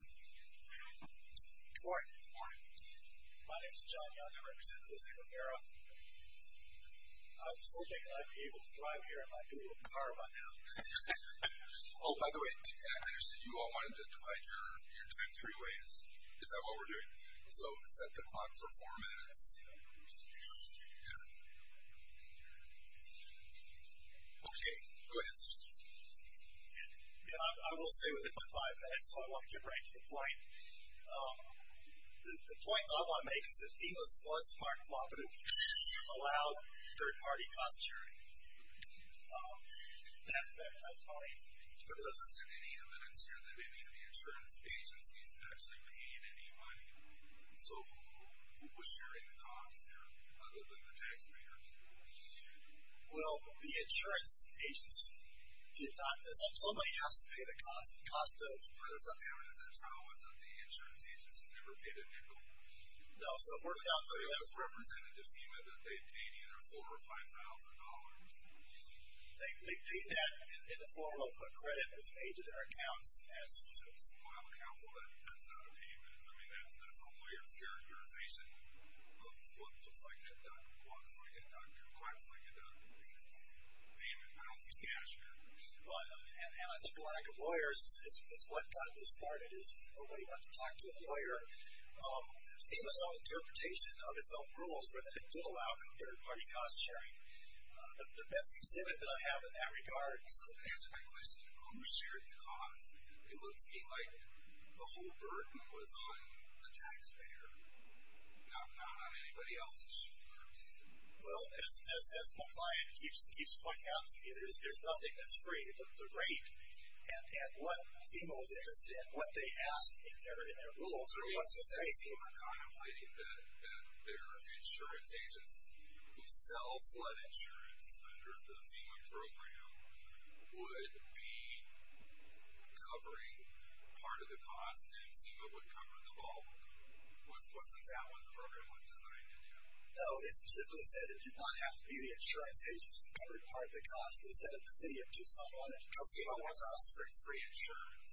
Good morning. My name is John Young. I represent Jose Rivera. I was hoping I'd be able to drive here in my beautiful car by now. Oh, by the way, I understand you all wanted to divide your time three ways. Is that what we're doing? So, set the clock for four minutes? Yeah. Yeah. Okay. Go ahead. Yeah, I will stay within my five minutes, so I want to get right to the point. The point I want to make is that FEMA's Flood Smart Cooperative allowed third-party cost sharing. That's my point. But doesn't any evidence here that any of the insurance agencies actually paid any money? So, who was sharing the cost here, other than the taxpayers? Well, the insurance agency did not. Somebody has to pay the cost. But the evidence in the trial was that the insurance agency never paid a nickel. No, so it worked out for them. It was represented to FEMA that they paid either $4,000 or $5,000. They paid that in the form of a credit that was made to their accounts as seasons. That's not a payment. I mean, that's a lawyer's characterization of what looks like a duck, walks like a duck, drives like a duck. I mean, it's payment. I don't see cash here. And I think a lack of lawyers is what got this started is nobody wanted to talk to a lawyer. FEMA's own interpretation of its own rules were that it would allow third-party cost sharing. The best exhibit that I have in that regard. This doesn't answer my question. Who shared the cost? It looks to me like the whole burden was on the taxpayer, not on anybody else's shoulders. Well, as my client keeps pointing out to me, there's nothing that's free but the rate. And what FEMA was interested in, what they asked in their rules, or what's at stake. Was FEMA contemplating that their insurance agents who sell flood insurance under the FEMA program would be covering part of the cost and FEMA would cover the bulk? Wasn't that what the program was designed to do? No, they specifically said it did not have to be the insurance agents that covered part of the cost. They said the city of Tucson wanted to cover the cost. No, FEMA wasn't offering free insurance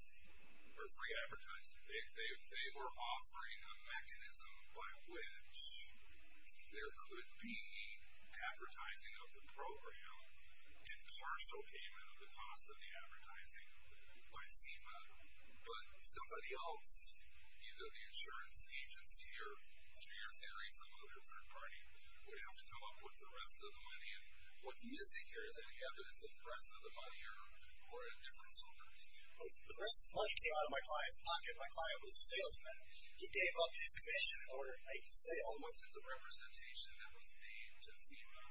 or free advertising. They were offering a mechanism by which there could be advertising of the program and partial payment of the cost of the advertising by FEMA. But somebody else, either the insurance agency or, in your theory, some other third party, would have to come up with the rest of the money. And what's missing here, is there any evidence of the rest of the money or a different source? Well, the rest of the money came out of my client's pocket. My client was a salesman. He gave up his commission in order to make sales. Wasn't the representation that was made to FEMA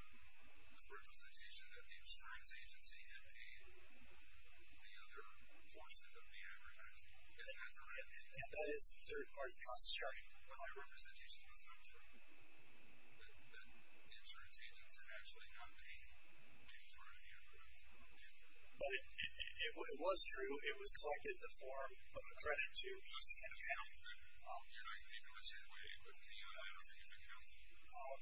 the representation that the insurance agency had paid the other portion of the advertising? Isn't that correct? Yeah, that is the third party cost sharing. But that representation was not true? That the insurance agents had actually not paid any part of the advertising? But it was true. It was collected in the form of a credit to each account. So you're not going to be doing it the same way with CUNY? I don't think you've been counseling?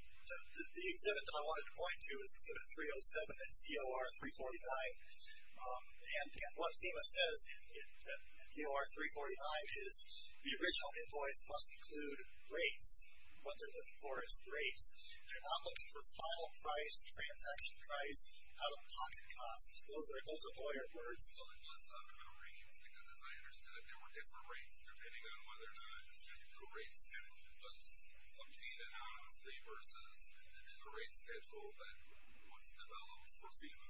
The exhibit that I wanted to point to is Exhibit 307. It's EOR 349. And what FEMA says in EOR 349 is the original invoice must include rates. What they're looking for is rates. They're not looking for final price, transaction price, out-of-pocket costs. Those are lawyer words. Well, it was not about rates because, as I understood it, there were different rates depending on whether or not the rate schedule was obtained anonymously versus a rate schedule that was developed for FEMA.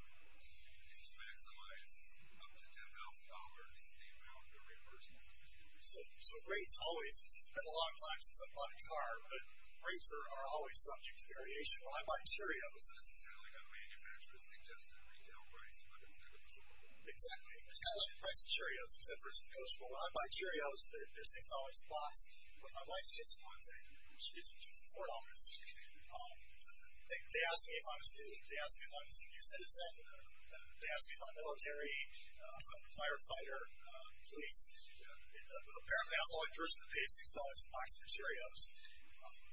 And to maximize up to $10,000, the amount of reimbursement. So rates always, it's been a long time since I've bought a car, but rates are always subject to variation. When I buy Cheerios. This is kind of like how manufacturers suggest their retail price, but it's never prescribable. Exactly. It's kind of like the price of Cheerios, except for it's negotiable. When I buy Cheerios, they're $6 a box. With my wife, it's just $4. They asked me if I'm a student. They asked me if I'm a senior citizen. They asked me if I'm military, firefighter, police. Apparently, I'm the only person to pay $6 a box for Cheerios.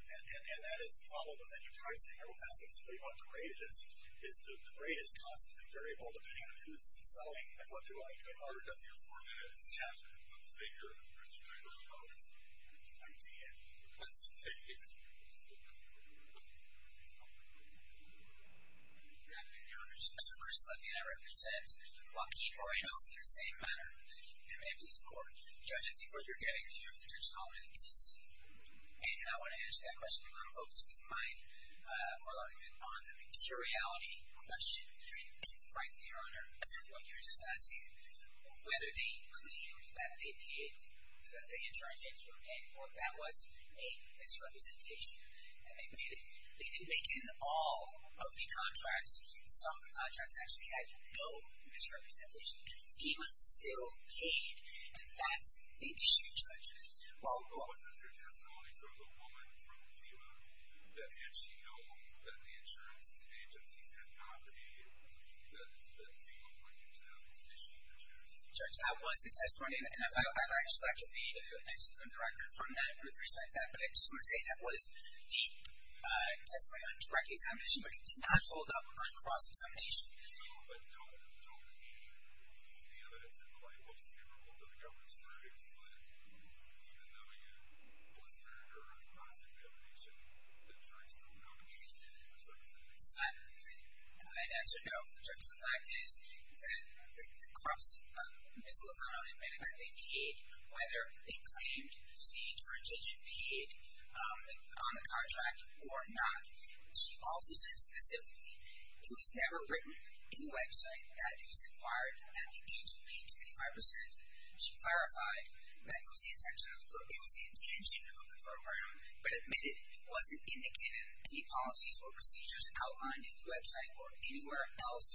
And that is the problem with any pricing. It will ask us what the rate is. The rate is constantly variable depending on who's selling and what they're willing to do. It doesn't get harder. It doesn't get harder than it is. Yeah. Let's take your question. I don't know. I did. Let's take it. Good afternoon, members. I'm Chris Levy, and I represent Joaquin Moreno in the same manner. And I'm a police reporter. Judge, I think what you're getting is you're a potential competent agency. And I want to answer that question, and I'm focusing my argument on the materiality question. Frankly, Your Honor, what you were just asking, whether they claimed that they did, that the insurance agents were paying for it, that was a misrepresentation. They didn't make in all of the contracts. Some of the contracts actually had no misrepresentation. And FEMA still paid. And that's the issue, Judge. Well, wasn't there testimony from the woman from FEMA that had she known that the insurance agencies had not paid, that FEMA wouldn't have issued insurance? Judge, that was the testimony. And I'd like to read a mention from the record from that, with respect to that. But I just want to say that was the testimony on direct contamination, but it did not hold up on cross-contamination. So I don't believe the evidence in the label is favorable to the government's verdicts. But even though you blistered her on cross-contamination, the jury still noted that FEMA was representing FEMA. I'd answer no. Judge, the fact is that Ms. Lozano admitted that they paid, whether they claimed the insurance agent paid on the contract or not. She also said specifically it was never written in the website that it was required at the age of being 25%. She clarified that it was the intention of the program, but admitted it wasn't indicated in any policies or procedures outlined in the website or anywhere else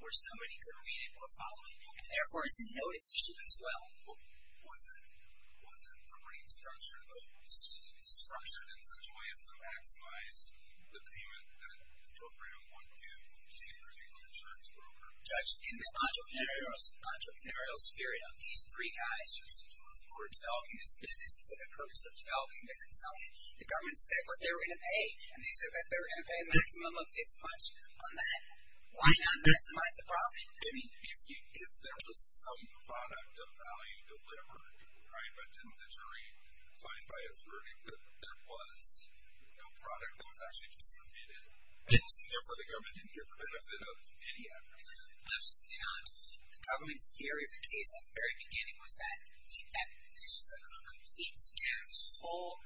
where somebody could read it or follow it. And therefore, it's a notice issue as well. Wasn't the rate structure, though, the payment that the program wanted to keep because the insurance was over? Judge, in the entrepreneurial sphere, these three guys who were developing this business for the purpose of developing this consultant, the government said what they were going to pay. And they said that they were going to pay a maximum of this much on that. Why not maximize the profit? I mean, if there was some product of value delivered, right, but didn't the jury find by its verdict that there was no product that was actually distributed? And so therefore, the government didn't get the benefit of any of it. Absolutely not. The government's theory of the case at the very beginning was that this was a complete scam. This whole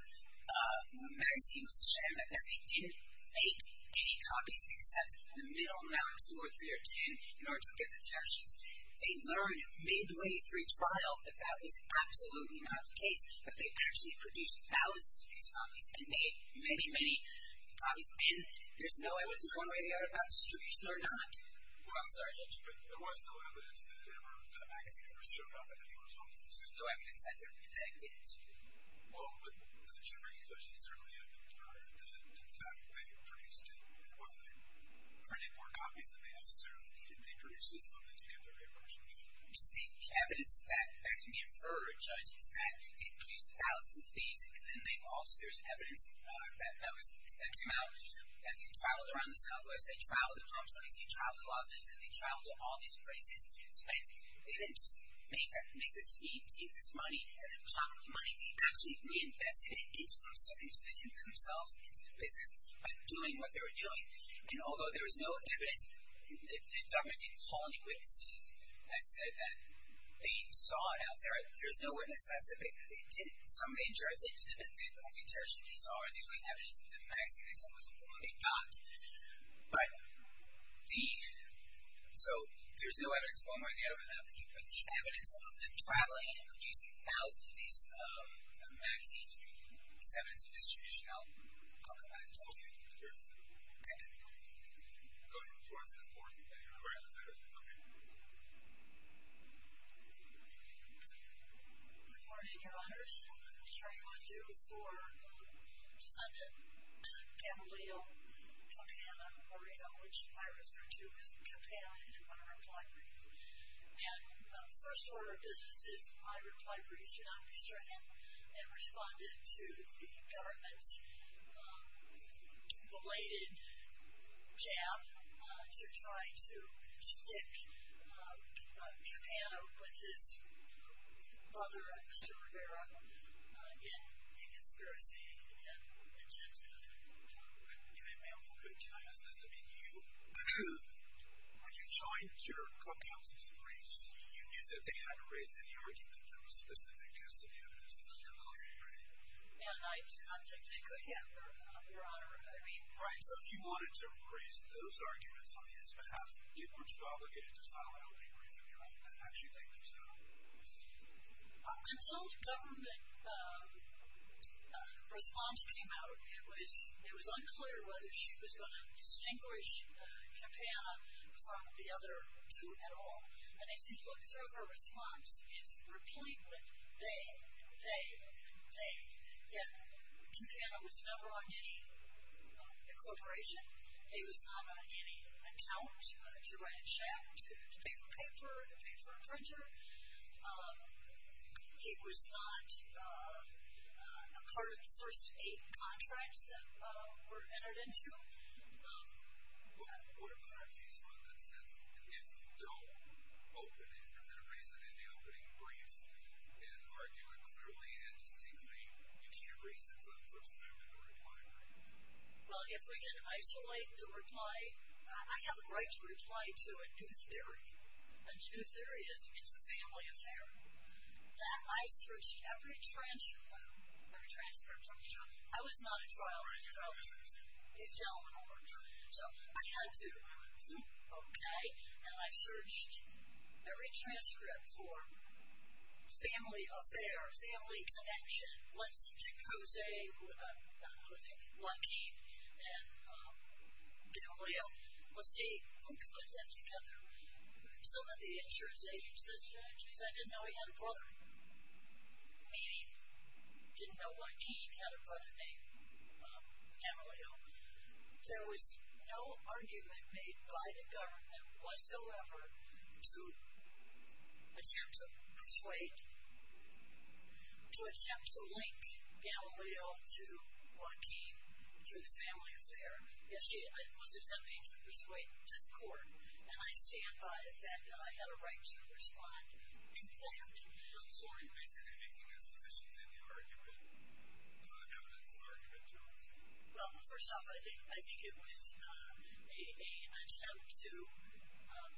magazine was a scam, that they didn't make any copies except the middle rounds, four, three, or ten, in order to get the tariff sheets. They learned midway through trial that that was absolutely not the case, that they actually produced thousands of these copies and made many, many copies. And there's no evidence one way or the other about distribution or not. Well, I'm sorry. There was no evidence that ever that magazine ever showed up at any of those offices. There's no evidence that it did. Well, the jury judges certainly have inferred that, in fact, they produced it. And while they printed more copies than they necessarily needed, they produced it so that they could get their fair share. You see, the evidence that can be inferred, Judge, is that it produced thousands of these, and then there's evidence that came out, that they traveled around the Southwest, they traveled to Palm Springs, they traveled to Las Vegas, and they traveled to all these places. So they didn't just make this scheme to keep this money, and then pocket the money. They actually reinvested it into themselves, into their businesses, doing what they were doing. And although there is no evidence, the government didn't call any witnesses that said that they saw it out there. There's no witness that said they did it. Some of the jurors did, but the only jurors that they saw are the only evidence in the magazine they saw was the one they got. Right. So, there's no evidence. Well, I'm not going to get into that, but the evidence of them traveling and producing thousands of these magazines is evidence of this tradition. I'll come back and talk to you. All right. Okay. I'm going to come towards this board. Okay. Okay. Good morning, Your Honors. I'm sorry, we're due for Sunday. Camarillo, Campana, Morito, which I referred to as Campana in my reply brief. And the first order of business is my reply brief should not be stricken and responded to the government's belated jab to try to stick Campana with his brother, Mr. Rivera, in discursing and in terms of, you know. Okay, ma'am. Can I ask this? I mean, you, when you joined your court counsel's briefs, you knew that they hadn't raised any argument that was specific as to the evidence that was on your hearing. And I'm confident they could have, Your Honor. I mean. Right. So if you wanted to raise those arguments on his behalf, you weren't so obligated to file that brief, Your Honor. How did you think they would sound? Until the government response came out, it was unclear whether she was going to distinguish Campana from the other two at all. And as you can observe, her response is replete with they, they, they. Yeah. Campana was never on any incorporation. He was not on any account to write a check, to pay for paper, to pay for a printer. He was not a part of the first eight contracts that were entered into. What about her? He's run that since. If you don't open it, if there's been a reason in the opening and argue it clearly and distinctly, you can't reason from the first time in the reply. Well, if we can isolate the reply, I have a right to reply to a new theory. A new theory is it's a family affair. In fact, I searched every transcript from each other. I was not at trial. Right, you were not at trial. These gentlemen weren't at trial. So I had to. Okay. And I searched every transcript for family affair, family connection. Let's stick Jose, not Jose, Joaquin and Amelio. Let's see who could put them together. Some of the answers, they said, Judge, means I didn't know he had a brother, meaning didn't know Joaquin had a brother named Amelio. There was no argument made by the government whatsoever to attempt to persuade, to attempt to link Amelio to Joaquin through the family affair. Yes, she was attempting to persuade this court. And I stand by the fact that I had a right to respond to that. So are you basically making a sufficient argument, evidence argument, Well, first off, I think it was an attempt to,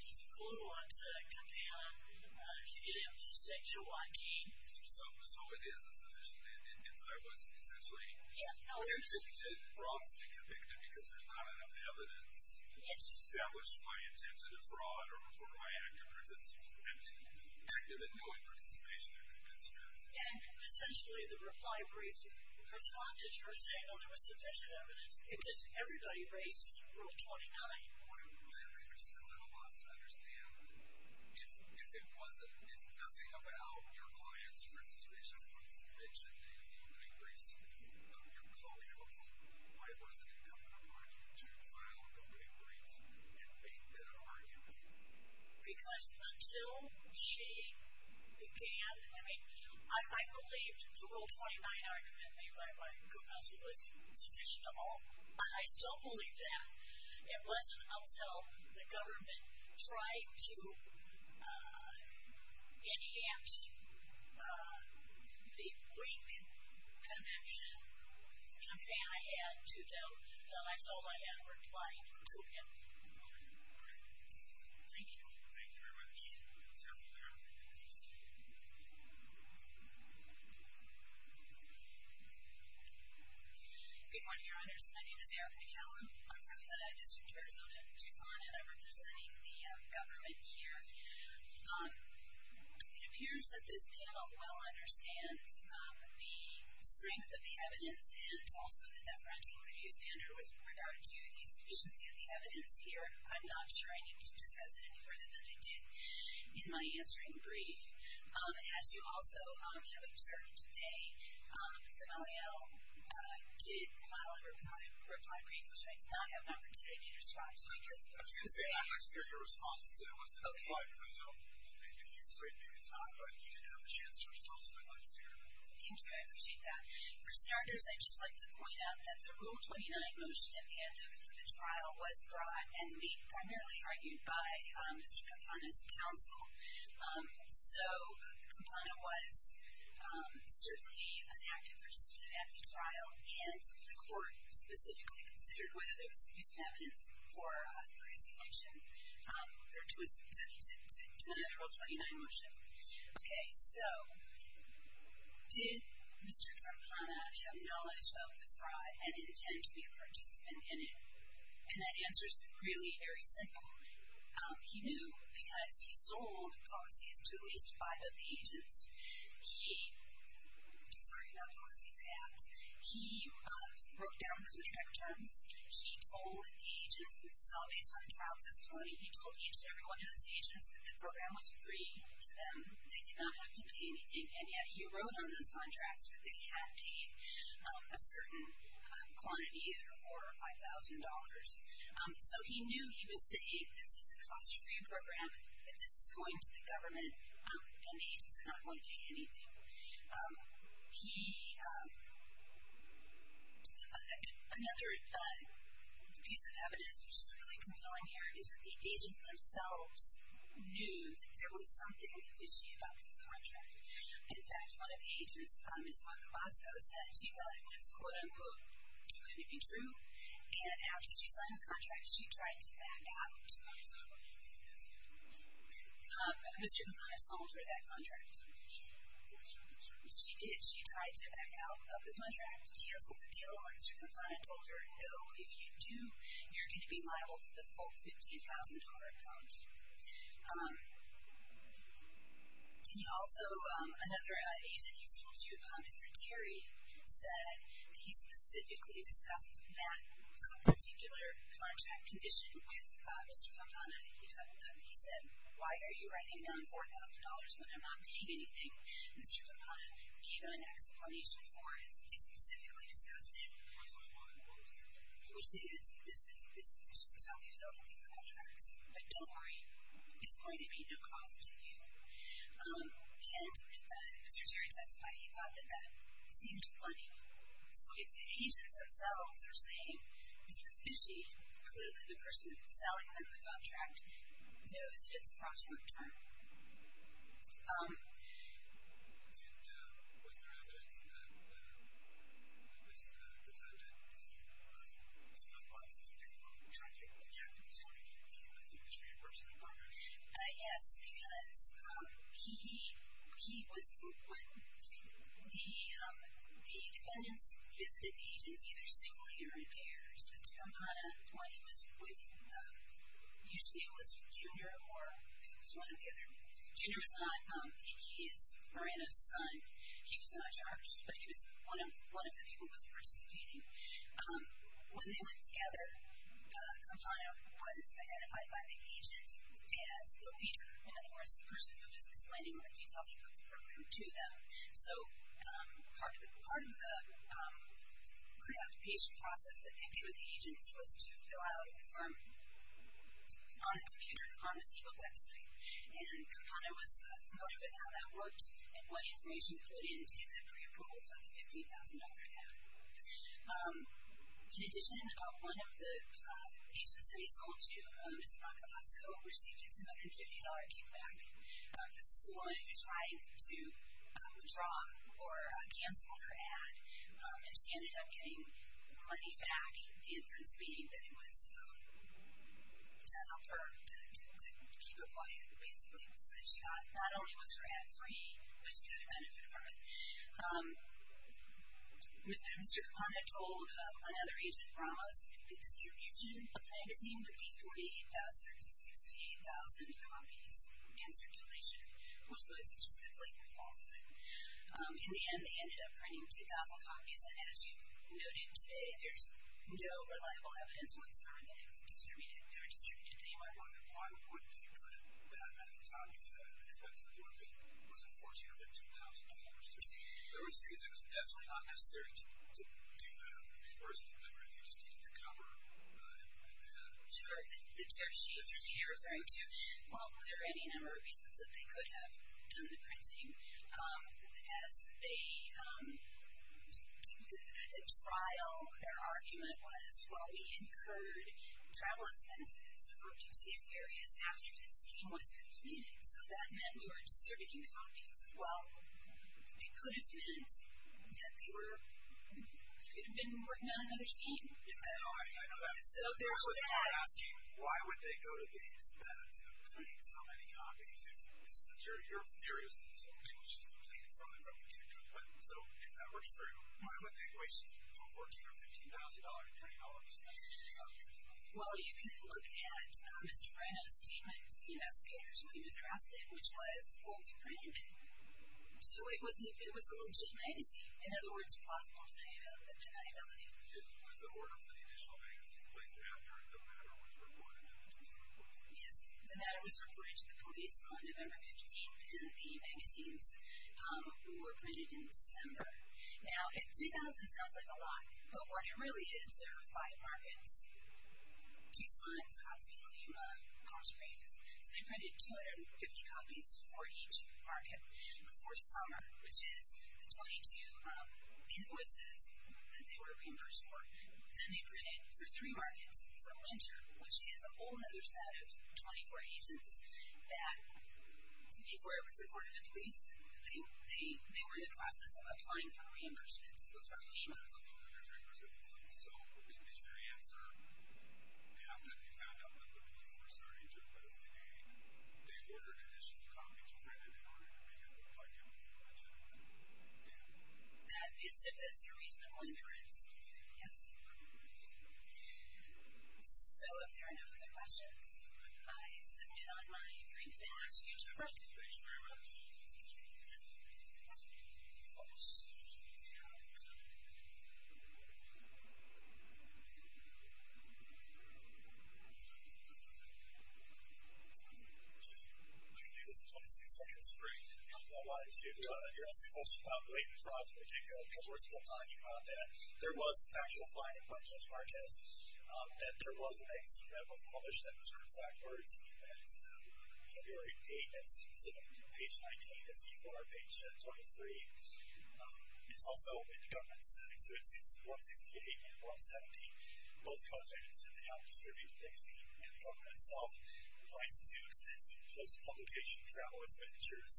just a clue on to campaign on to get him to stay Joaquin. So it is a sufficient evidence. I was essentially convicted, wrongfully convicted, because there's not enough evidence to establish my intent to defraud or report my active participation, active and knowing participation in this case. And essentially, the reply briefs responded. You were saying, oh, there was sufficient evidence, because everybody raised Rule 29. Because until she began, I mean, I believed the Rule 29 argument made by my counsel was sufficient to all. I still believe that. It wasn't until the government tried to enhance the link connection campaign I had to them that I felt I had replied to him. Thank you. Thank you very much. Thank you. Good morning, Your Honors. My name is Erica McCallum. I'm from the District of Arizona, Tucson, and I'm representing the government here. It appears that this panel well understands the strength of the evidence and also the deferential review standard with regard to the sufficiency of the evidence here. I'm not sure I need to discuss it any further than I did in my answering brief. As you also have observed today, D'Amelio did file a reply brief, which I did not have an opportunity to respond to, I guess. I was going to say, I'd like to hear your response, because I wasn't up front enough. And you explained maybe it's not, but you didn't have the chance to respond, so I'd like to hear that. Thank you. I appreciate that. For starters, I'd just like to point out that the Rule 29 motion at the end of the trial was brought and made primarily argued by Mr. Kampana's counsel. So Kampana was certainly an active participant at the trial, and the court specifically considered whether there was abuse of evidence for his connection to another Rule 29 motion. Okay, so did Mr. Kampana have knowledge of the fraud and intend to be a participant in it? And that answer is really very simple. He knew because he sold policies to at least five of the agents. He broke down the contract terms. He told the agents, and this is all based on trial testimony, he told each and every one of those agents that the program was free to them. They did not have to pay anything. And yet he wrote on those contracts that they had paid a certain quantity, either $4,000 or $5,000. So he knew he was to aid. This is a cost-free program, and this is going to the government, and the agents are not going to pay anything. Another piece of evidence, which is really compelling here, is that the agents themselves knew that there was something fishy about this contract. In fact, one of the agents, Ms. Marcosco, said she thought it was, quote-unquote, too good to be true. And after she signed the contract, she tried to back out. Mr. Kampana sold her that contract. She did. She tried to back out of the contract, cancel the deal, and Mr. Kampana told her, no, if you do, you're going to be liable for the full $15,000 amount. He also, another agent he spoke to, Mr. Deary, said that he specifically discussed that particular contract condition with Mr. Kampana. He said, why are you writing down $4,000 when I'm not paying anything? Mr. Kampana gave him an explanation for it. He specifically discussed it, which is, this is just how you fill out these contracts, but don't worry, it's going to be no cost to you. And Mr. Deary testified he thought that that seemed funny. So if the agents themselves are saying, this is fishy, clearly the person that's selling them the contract knows it's a fraudulent term. He did, was there evidence that this defendant gave up on the deal when he tried to get the contract in 2015? I think this would be a person of interest. Yes, because he was, when the defendants visited the agents, either singly or in pairs, Mr. Kampana, usually it was Junior or, it was one or the other. Junior was not, he is Miranda's son. He was not charged, but he was one of the people who was participating. When they went together, Kampana was identified by the agent as the leader. In other words, the person who was explaining the details of the program to them. So part of the preoccupation process that they did with the agents was to fill out a form on the computer, on the FEMA website. And Kampana was familiar with how that worked and what information he put in to get that preapproval for the $15,000 ad. In addition, one of the agents that he sold to, Ms. Macalasco, received a $250 kickback. This is a woman who tried to withdraw or cancel her ad and she ended up getting money back, the inference being that it was to help her to keep it quiet, basically, so that not only was her ad free, but she got a benefit from it. Mr. Kampana told another agent, Ramos, the distribution of the magazine would be 48,000 to 68,000 copies in circulation, which was just a blink of falsehood. In the end, they ended up printing 2,000 copies, and as you've noted today, there's no reliable evidence whatsoever that it was distributed. They were distributed anywhere. Why would they put in that many copies at an expensive, what was it, $14,000 or $15,000? I would say that it was definitely not necessary to do that. The person literally just needed to cover an ad. Sure. They're referring to, well, were there any number of reasons that they could have done the printing? As they did the trial, their argument was, well, we incurred travel expenses subverted to these areas after this scheme was completed, so that meant we were distributing copies. Well, it could have meant that they were, they could have been working on another scheme. Yeah, I know that. So there's that. I was asking, why would they go to these bets and print so many copies? Your theory is that something was just depleted from the company and it got cut, so if that were true, why would they waste $14,000 or $15,000 to print all of these copies? Well, you could look at Mr. Brenna's statement to the investigators when he was arrested, which was, well, we printed it. So it was a legit magazine. In other words, plausible to deny identity. Was the order for the additional magazines placed after the matter was reported to the police? Yes, the matter was reported to the police on November 15th, and the magazines were printed in December. Now, 2,000 sounds like a lot, but what it really is, there are five markets, Tucson, Scottsdale, Yuma, Palm Springs, so they printed 250 copies for each market for summer, which is the 22 invoices that they were reimbursed for. Then they printed for three markets for winter, which is a whole other set of 24 agents that, before it was reported to the police, they were in the process of applying for reimbursement. So, for FEMA. So, we reached their answer after we found out that the police were starting to investigate. They ordered additional copies printed in order to make it look like it was legitimate. That is a reasonable inference, yes. So, if there are no further questions, I submit on my agreement to you to restitution. Thank you very much. I can do this in 22 seconds. Great. I wanted to address the most blatant frauds that were taking place at one time. There was factual finding by Judge Marquez that there was a magazine that was published that was written backwards. So, February 8th, that's page 19, that's E4, page 23. It's also in the government's exhibit 168 and 170. Both co-authors have now distributed the magazine, and the government itself applies to extensive post-publication travel expenditures,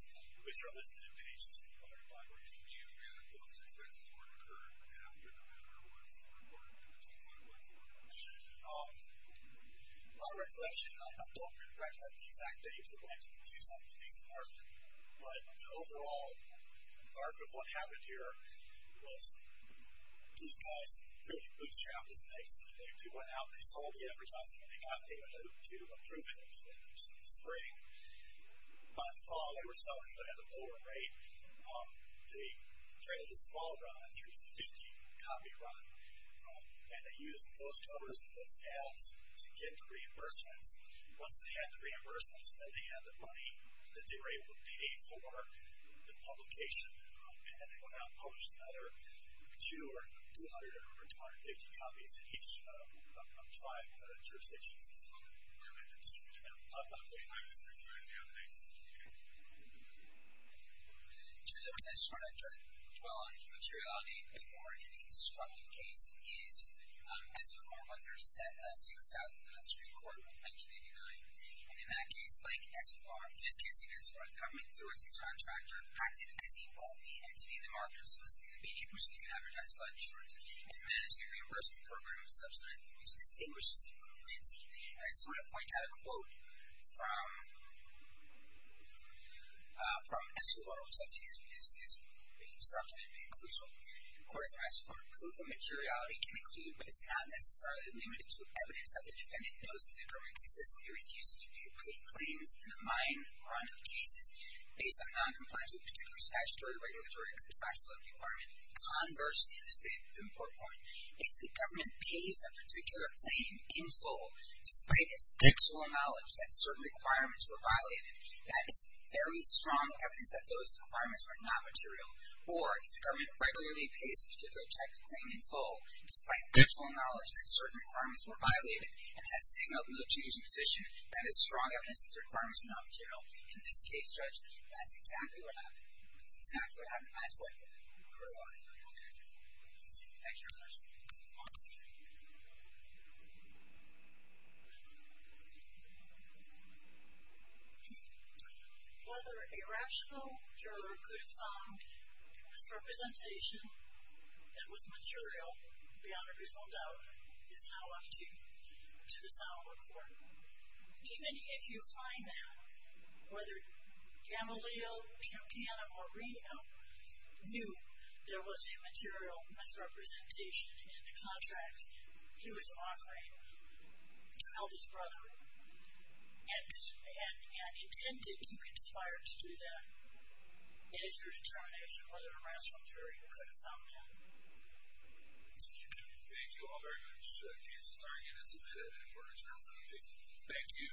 which are listed on page 105. Do you know if those expenses were incurred after the matter was reported, or since when it was reported? My recollection, and I don't recollect the exact date that went into the Tucson Police Department, but the overall arc of what happened here was these guys really bootstrapped this magazine. They went out, they sold the advertising, and they got payment to approve it in the spring. By the fall, they were selling it at a lower rate. They traded a small run, I think it was a 50-copy run, and they used those covers and those ads to get the reimbursements. Once they had the reimbursements, then they had the money that they were able to pay for the publication, and then they went out and published another 200 or 250 copies in each of five jurisdictions. This is from the Department of the Distributive Bureau. I'm not familiar with this report. I had it the other day. It turns out that it's hard to dwell on materiality anymore. The instructive case is SO4-137-6000, the Hudson Street Court in 1989. And in that case, like SOR, in this case because the government threw its contractor, acted as the only entity in the market of soliciting the media so they could advertise flood insurance and manage the reimbursement for a group of subsidized, which distinguishes it from the entity. And I just want to point out a quote from SOR, which I think is pretty instructive and crucial. According to my support, proof of materiality can include, but it's not necessarily limited to, evidence that the defendant knows that the government consistently refuses to pay claims in a mine run of cases based on noncompliance with particular statutory, regulatory, and constitutional law of the environment. Conversely, in this case, the important point is that if the government pays a particular claim in full, despite its actual knowledge that certain requirements were violated, that it's very strong evidence that those requirements are not material. Or, if the government regularly pays a particular type of claim in full, despite its actual knowledge that certain requirements were violated, and has signaled no change in position, that is strong evidence that the requirements are not material. In this case, Judge, that's exactly what happened. That's exactly what happened. That's what occurred. Thank you very much. Whether a rational juror could have found misrepresentation that was material, beyond a reasonable doubt, is now up to the Sonoma Court. Even if you find that, whether Gamaleo, Campiana, or Reno knew there was a material misrepresentation in the contract he was offering to help his brother, and intended to conspire to do that, it is your determination whether a rational juror could have found that. Thank you all very much. The case is now again submitted, and we're adjourned for the day. Thank you.